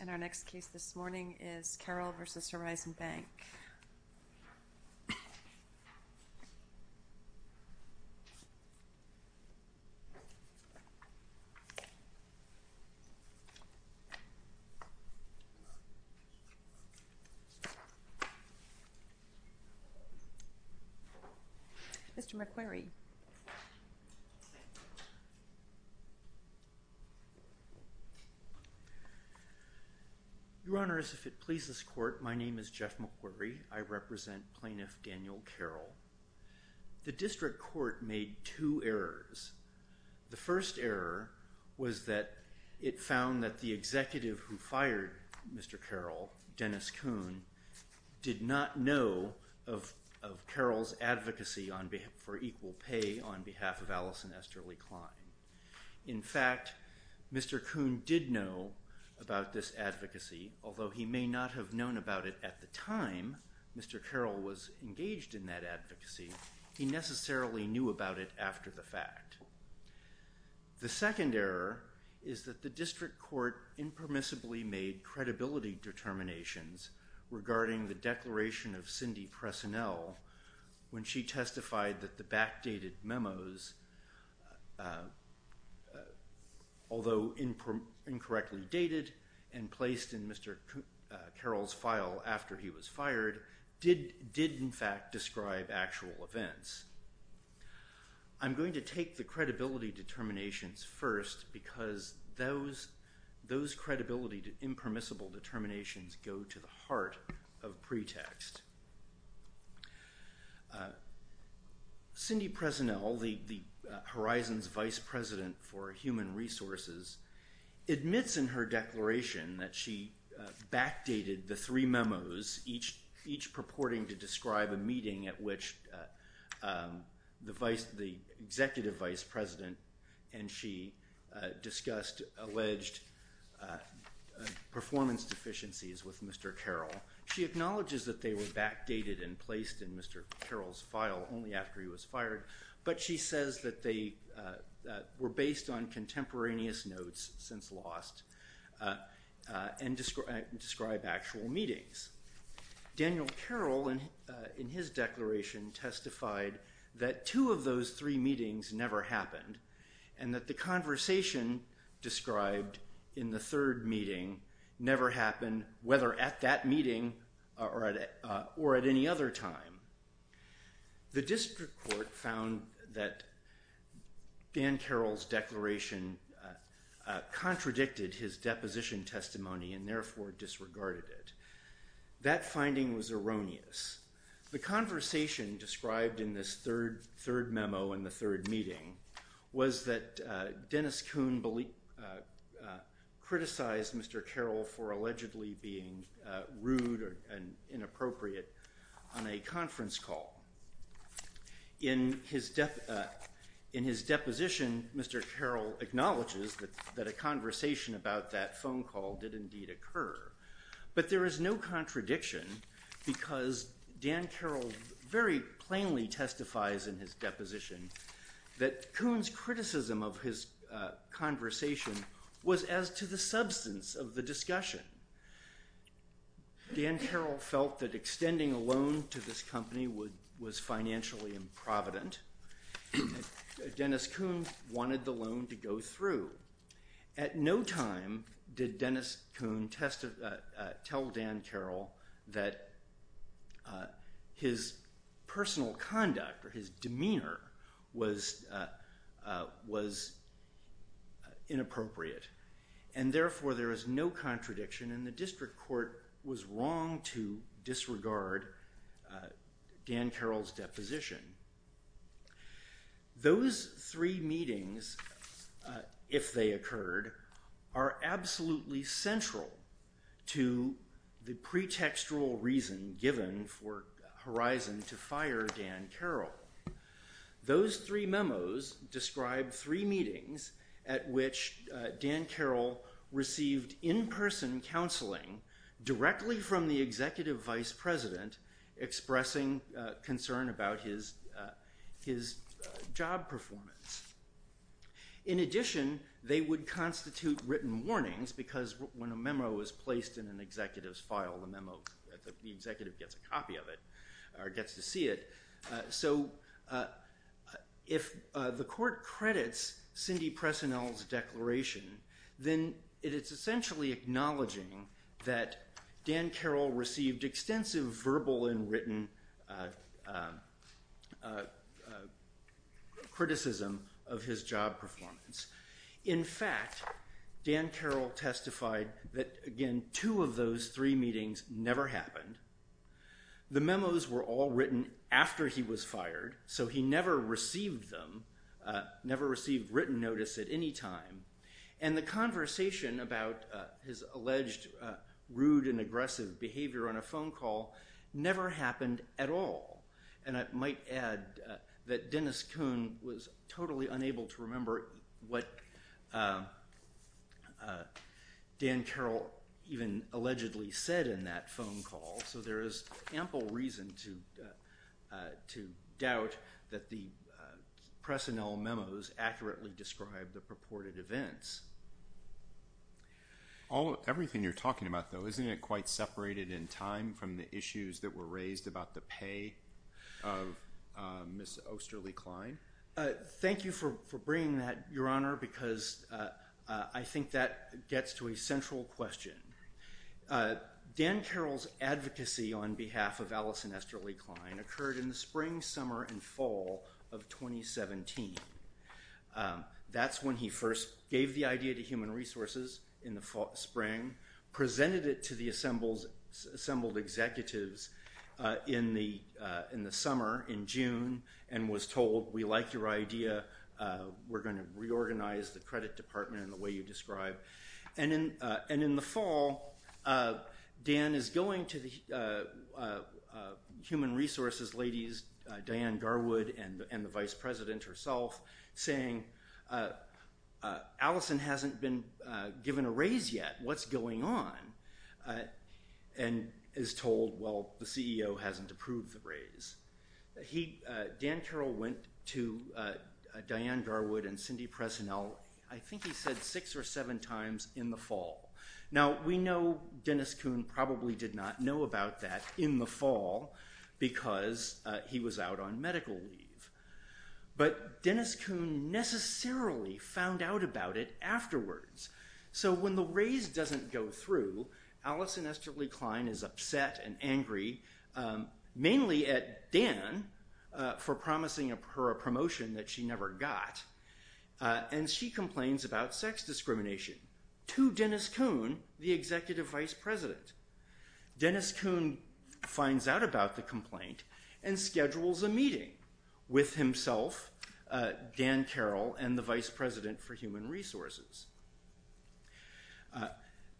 And our next case this morning is Carroll v. Horizon Bank. Mr. McQuarrie. Your Honor, if it pleases the court, my name is Jeff McQuarrie. I represent Plaintiff Daniel Carroll. The district court made two errors. The first error was that it found that the executive who fired Mr. Carroll, Dennis Kuhn, did not know of Carroll's advocacy for equal pay on behalf of Allison Esterly Klein. In fact, Mr. Kuhn did know about this advocacy, although he may not have known about it at the time Mr. Carroll was engaged in that advocacy. He necessarily knew about it after the fact. The second error is that the district court impermissibly made credibility determinations regarding the declaration of Cindy Presinel when she testified that the backdated memos, although incorrectly dated and placed in Mr. Carroll's file after he was fired, did in fact describe actual events. I'm going to take the credibility determinations first because those credibility impermissible determinations go to the heart of pretext. Cindy Presinel, the Horizons vice president for human resources, admits in her declaration that she backdated the three memos, each purporting to describe a meeting at which the executive vice president and she discussed alleged performance deficiencies with Mr. Carroll. She acknowledges that they were backdated and placed in Mr. Carroll's file only after he was fired, but she says that they were based on contemporaneous notes since lost and describe actual meetings. Daniel Carroll in his declaration testified that two of those three meetings never happened and that the conversation described in the third meeting never happened whether at that meeting or at any other time. The district court found that Dan Carroll's declaration contradicted his deposition testimony and therefore disregarded it. That finding was erroneous. The conversation described in this third memo in the third meeting was that Dennis Kuhn criticized Mr. Carroll for allegedly being rude and inappropriate on a conference call. In his deposition, Mr. Carroll acknowledges that a conversation about that phone call did indeed occur, but there is no contradiction because Dan Carroll very plainly testifies in his deposition that Kuhn's criticism of his conversation was as to the substance of the discussion. Dan Carroll felt that extending a loan to this company was financially improvident. Dennis Kuhn wanted the loan to go through. At no time did Dennis Kuhn tell Dan Carroll that his personal conduct or his demeanor was inappropriate and therefore there is no contradiction and the district court was wrong to disregard Dan Carroll's deposition. Those three meetings, if they occurred, are absolutely central to the pretextual reason given for Horizon to fire Dan Carroll. Those three memos describe three meetings at which Dan Carroll received in-person counseling directly from the executive vice president expressing concern about his job performance. In addition, they would constitute written warnings because when a memo is placed in an executive's file, the executive gets a copy of it or gets to see it. So if the court credits Cindy Presinel's declaration, then it is essentially acknowledging that Dan Carroll received extensive verbal and written criticism of his job performance. In fact, Dan Carroll testified that, again, two of those three meetings never happened. The memos were all written after he was fired, so he never received them, never received written notice at any time, and the conversation about his alleged rude and aggressive behavior on a phone call never happened at all. And I might add that Dennis Kuhn was totally unable to remember what Dan Carroll even allegedly said in that phone call, so there is ample reason to doubt that the Presinel memos accurately described the purported events. Everything you're talking about, though, isn't it quite separated in time from the issues that were raised about the pay of Ms. Osterly-Klein? Thank you for bringing that, Your Honor, because I think that gets to a central question. Dan Carroll's advocacy on behalf of Allison Osterly-Klein occurred in the spring, summer, and fall of 2017. That's when he first gave the idea to Human Resources in the spring, presented it to the assembled executives in the summer, in June, and was told, we like your idea, we're going to reorganize the credit department in the way you described. And in the fall, Dan is going to the Human Resources ladies, Diane Garwood and the Vice President herself, saying, Allison hasn't been given a raise yet, what's going on? And is told, well, the CEO hasn't approved the raise. Dan Carroll went to Diane Garwood and Cindy Presinel, I think he said six or seven times, in the fall. Now, we know Dennis Kuhn probably did not know about that in the fall because he was out on medical leave. But Dennis Kuhn necessarily found out about it afterwards. So when the raise doesn't go through, Allison Osterly-Klein is upset and angry, mainly at Dan for promising her a promotion that she never got. And she complains about sex discrimination to Dennis Kuhn, the Executive Vice President. Dennis Kuhn finds out about the complaint and schedules a meeting with himself, Dan Carroll, and the Vice President for Human Resources.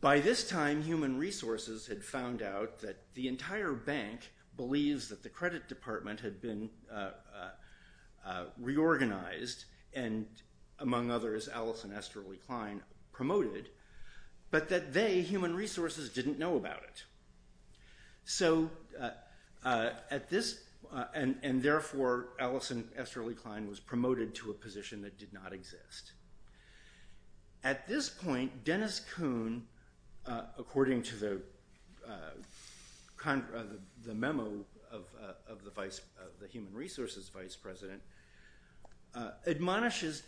By this time, Human Resources had found out that the entire bank believes that the credit department had been reorganized, and among others, Allison Osterly-Klein promoted, but that they, Human Resources, didn't know about it. And therefore, Allison Osterly-Klein was promoted to a position that did not exist. At this point, Dennis Kuhn, according to the memo of the Human Resources Vice President, admonishes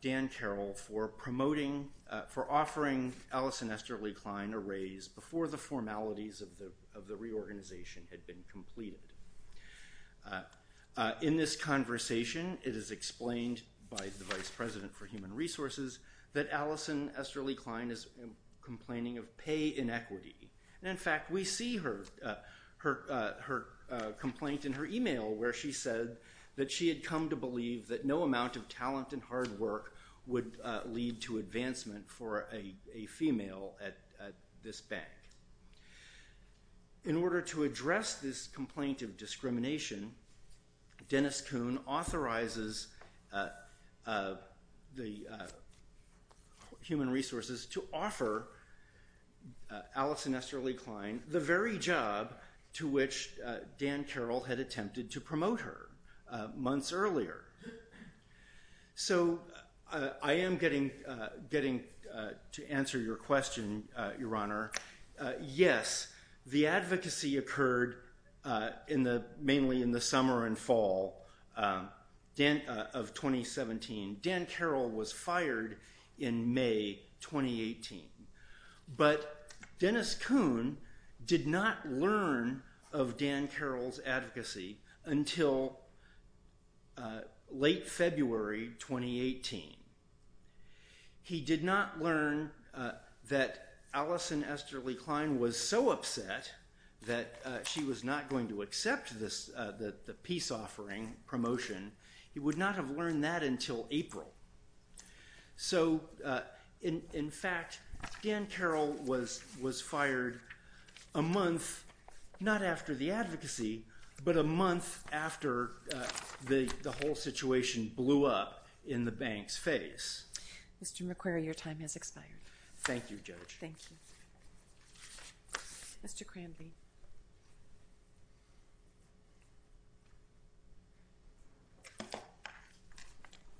Dan Carroll for offering Allison Osterly-Klein a raise before the formalities of the reorganization had been completed. In this conversation, it is explained by the Vice President for Human Resources that Allison Osterly-Klein is complaining of pay inequity. And in fact, we see her complaint in her email where she said that she had come to believe that no amount of talent and hard work would lead to advancement for a female at this bank. In order to address this complaint of discrimination, Dennis Kuhn authorizes Human Resources to offer Allison Osterly-Klein the very job to which Dan Carroll had attempted to promote her months earlier. So I am getting to answer your question, Your Honor. Yes, the advocacy occurred mainly in the summer and fall of 2017. Dan Carroll was fired in May 2018. But Dennis Kuhn did not learn of Dan Carroll's advocacy until late February 2018. He did not learn that Allison Osterly-Klein was so upset that she was not going to accept the peace offering promotion. He would not have learned that until April. So, in fact, Dan Carroll was fired a month, not after the advocacy, but a month after the whole situation blew up in the bank's face. Mr. McQuarrie, your time has expired. Thank you, Judge. Thank you. Mr. Cranby.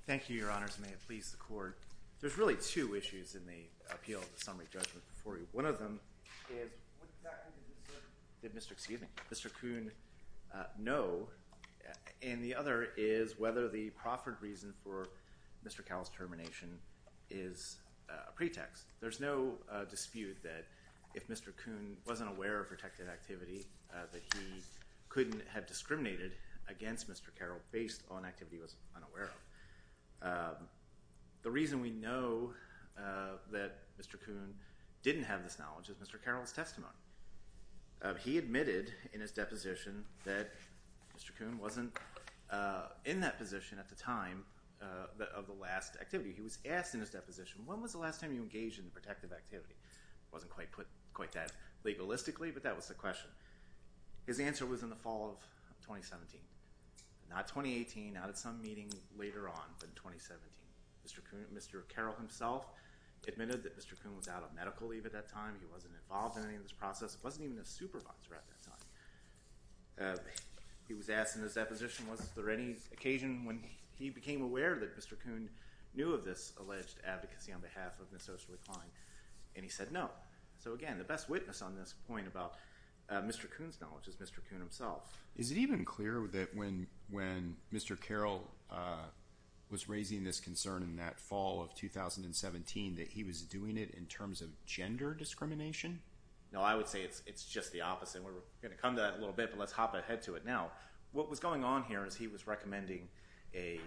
Thank you, Your Honors, and may it please the Court. There's really two issues in the appeal of the summary judgment before you. One of them is what exactly did Mr. Kuhn know, and the other is whether the proffered reason for Mr. Carroll's termination is a pretext. There's no dispute that if Mr. Kuhn wasn't aware of protected activity that he couldn't have discriminated against Mr. Carroll based on activity he was unaware of. The reason we know that Mr. Kuhn didn't have this knowledge is Mr. Carroll's testimony. He admitted in his deposition that Mr. Kuhn wasn't in that position at the time of the last activity. He was asked in his deposition, when was the last time you engaged in protective activity? It wasn't quite put quite that legalistically, but that was the question. His answer was in the fall of 2017. Not 2018, not at some meeting later on, but in 2017. Mr. Carroll himself admitted that Mr. Kuhn was out of medical leave at that time. He wasn't involved in any of this process. He wasn't even a supervisor at that time. He was asked in his deposition, was there any occasion when he became aware that Mr. Kuhn knew of this alleged advocacy on behalf of Ms. Oshley Klein? And he said no. So again, the best witness on this point about Mr. Kuhn's knowledge is Mr. Kuhn himself. Is it even clear that when Mr. Carroll was raising this concern in that fall of 2017 that he was doing it in terms of gender discrimination? No, I would say it's just the opposite. We're going to come to that in a little bit, but let's hop ahead to it now. What was going on here is he was recommending a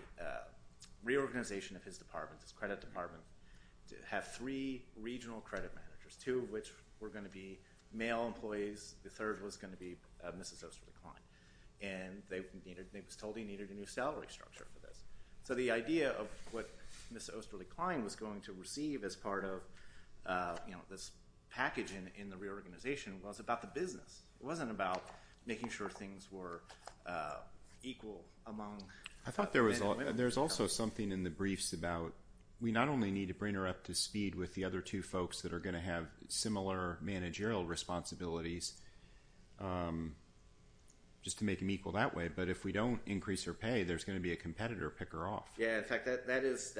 reorganization of his department, his credit department, to have three regional credit managers, two of which were going to be male employees, the third was going to be Mrs. Oshley Klein. And they were told he needed a new salary structure for this. So the idea of what Ms. Oshley Klein was going to receive as part of this package in the reorganization was about the business. It wasn't about making sure things were equal among men and women. I thought there was also something in the briefs about we not only need to bring her up to speed with the other two folks that are going to have similar managerial responsibilities just to make them equal that way, but if we don't increase her pay, there's going to be a competitor to pick her off. Yeah, in fact, that's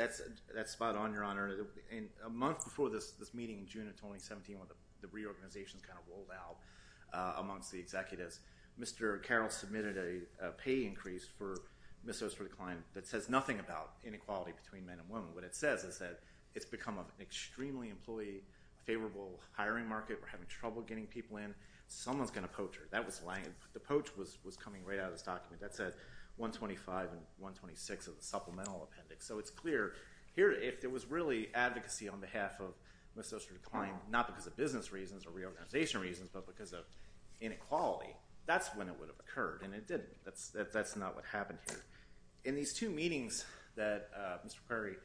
spot on, Your Honor. A month before this meeting in June of 2017 when the reorganization kind of rolled out amongst the executives, Mr. Carroll submitted a pay increase for Ms. Oshley Klein that says nothing about inequality between men and women. What it says is that it's become an extremely employee-favorable hiring market. We're having trouble getting people in. Someone's going to poach her. The poach was coming right out of this document that said 125 and 126 of the supplemental appendix. So it's clear here if there was really advocacy on behalf of Ms. Oshley Klein, not because of business reasons or reorganization reasons, but because of inequality, that's when it would have occurred, and it didn't. That's not what happened here. In these two meetings that Mr. Prairie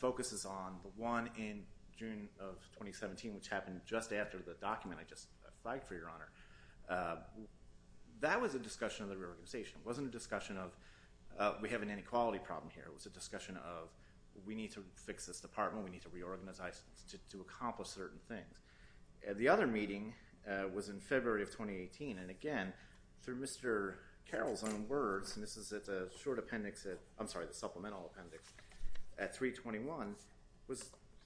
focuses on, the one in June of 2017, which happened just after the document I just flagged for your honor, that was a discussion of the reorganization. It wasn't a discussion of we have an inequality problem here. It was a discussion of we need to fix this department. We need to reorganize to accomplish certain things. The other meeting was in February of 2018, and again, through Mr. Carroll's own words, and this is at the supplemental appendix at 321,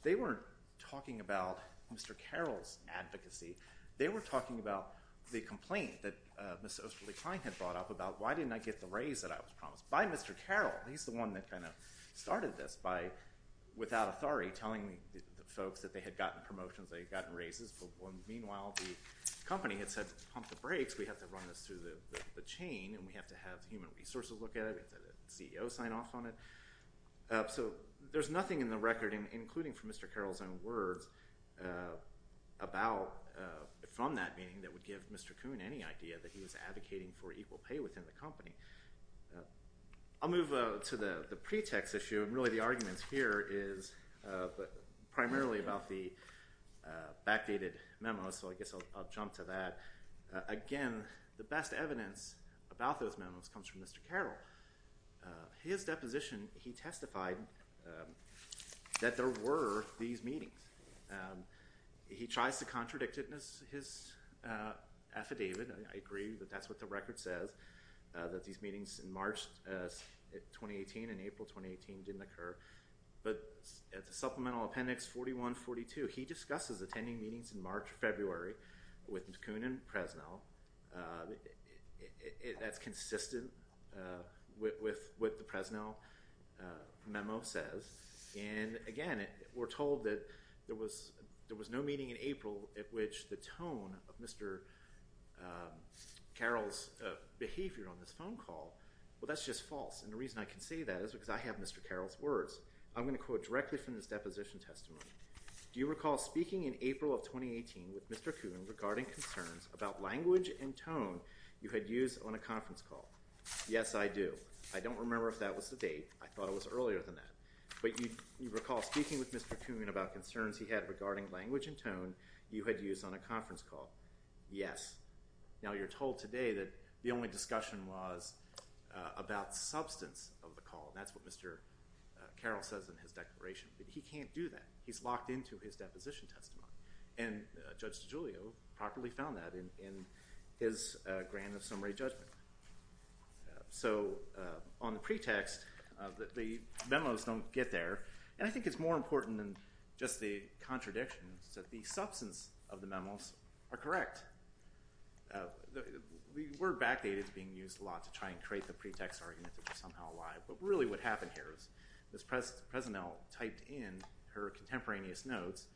they weren't talking about Mr. Carroll's advocacy. They were talking about the complaint that Ms. Oshley Klein had brought up about why didn't I get the raise that I was promised by Mr. Carroll. He's the one that kind of started this by, without authority, telling the folks that they had gotten promotions, they had gotten raises, but meanwhile the company had said pump the brakes. We have to run this through the chain, and we have to have human resources look at it. We have to have the CEO sign off on it. So there's nothing in the record, including from Mr. Carroll's own words, about from that meeting that would give Mr. Kuhn any idea that he was advocating for equal pay within the company. I'll move to the pretext issue, and really the argument here is primarily about the backdated memo, so I guess I'll jump to that. Again, the best evidence about those memos comes from Mr. Carroll. His deposition, he testified that there were these meetings. He tries to contradict it in his affidavit, and I agree that that's what the record says, that these meetings in March 2018 and April 2018 didn't occur, but at the supplemental appendix 4142, where he discusses attending meetings in March or February with Mr. Kuhn and Presnell, that's consistent with what the Presnell memo says. And again, we're told that there was no meeting in April at which the tone of Mr. Carroll's behavior on this phone call, well, that's just false, and the reason I can say that is because I have Mr. Carroll's words. I'm going to quote directly from his deposition testimony. Do you recall speaking in April of 2018 with Mr. Kuhn regarding concerns about language and tone you had used on a conference call? Yes, I do. I don't remember if that was the date. I thought it was earlier than that, but you recall speaking with Mr. Kuhn about concerns he had regarding language and tone you had used on a conference call? Yes. Now, you're told today that the only discussion was about substance of the call, and that's what Mr. Carroll says in his declaration, but he can't do that. He's locked into his deposition testimony, and Judge DiGiulio properly found that in his grant of summary judgment. So on the pretext, the memos don't get there, and I think it's more important than just the contradictions that the substance of the memos are correct. We were backdated to being used a lot to try and create the pretext argument that was somehow a lie, but really what happened here is Ms. Presinel typed in her contemporaneous notes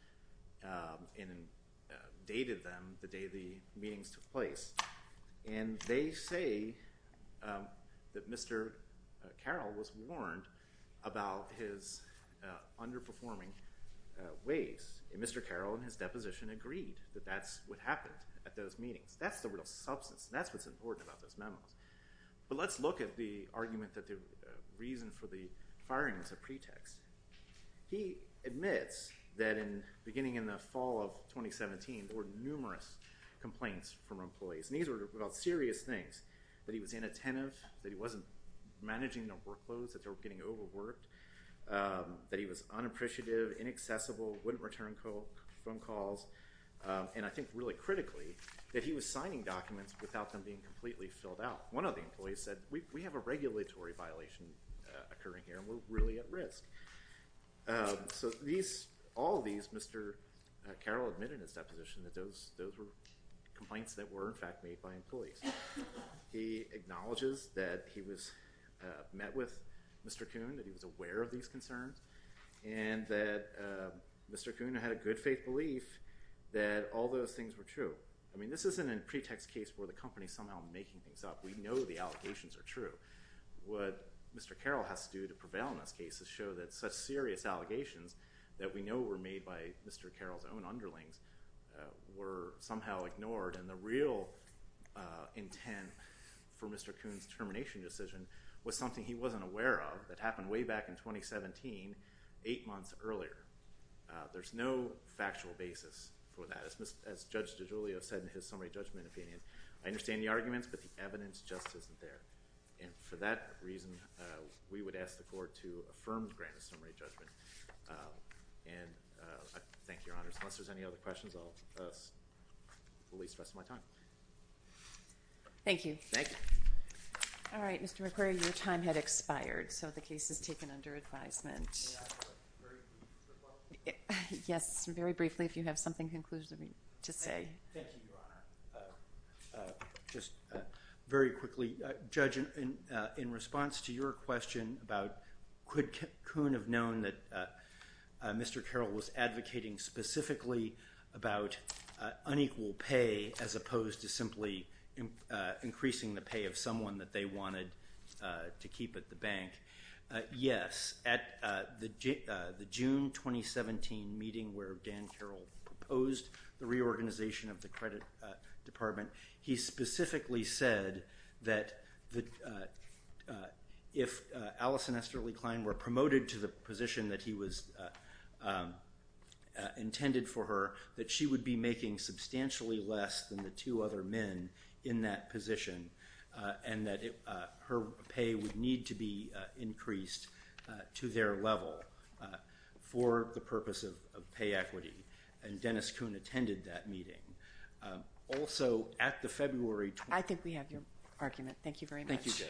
and dated them the day the meetings took place, and they say that Mr. Carroll was warned about his underperforming ways. And Mr. Carroll in his deposition agreed that that's what happened at those meetings. That's the real substance. That's what's important about those memos. But let's look at the argument that the reason for the firing is a pretext. He admits that beginning in the fall of 2017, there were numerous complaints from employees, and these were about serious things, that he was inattentive, that he wasn't managing the workloads, that they were getting overworked, that he was unappreciative, inaccessible, wouldn't return phone calls, and I think really critically that he was signing documents without them being completely filled out. One of the employees said, we have a regulatory violation occurring here, and we're really at risk. So all of these, Mr. Carroll admitted in his deposition that those were complaints that were in fact made by employees. He acknowledges that he met with Mr. Kuhn, that he was aware of these concerns, and that Mr. Kuhn had a good faith belief that all those things were true. I mean, this isn't a pretext case where the company is somehow making things up. We know the allegations are true. What Mr. Carroll has to do to prevail in those cases show that such serious allegations that we know were made by Mr. Carroll's own underlings were somehow ignored, and the real intent for Mr. Kuhn's termination decision was something he wasn't aware of that happened way back in 2017, eight months earlier. There's no factual basis for that, as Judge DiGiulio said in his summary judgment opinion. I understand the arguments, but the evidence just isn't there. And for that reason, we would ask the court to affirm Grant's summary judgment. And thank you, Your Honors. Unless there's any other questions, I'll release the rest of my time. Thank you. All right, Mr. McQuarrie, your time had expired, so the case is taken under advisement. Yes, very briefly, if you have something conclusive to say. Thank you, Your Honor. Just very quickly, Judge, in response to your question about could Kuhn have known that Mr. Carroll was advocating specifically about unequal pay as opposed to simply increasing the pay of someone that they wanted to keep at the bank, yes. At the June 2017 meeting where Dan Carroll proposed the reorganization of the credit department, he specifically said that if Alice and Esther Lee Klein were promoted to the position that he was intended for her, that she would be making substantially less than the two other men in that position and that her pay would need to be increased to their level for the purpose of pay equity. And Dennis Kuhn attended that meeting. Also, at the February— I think we have your argument. Thank you very much. Thank you, Judge.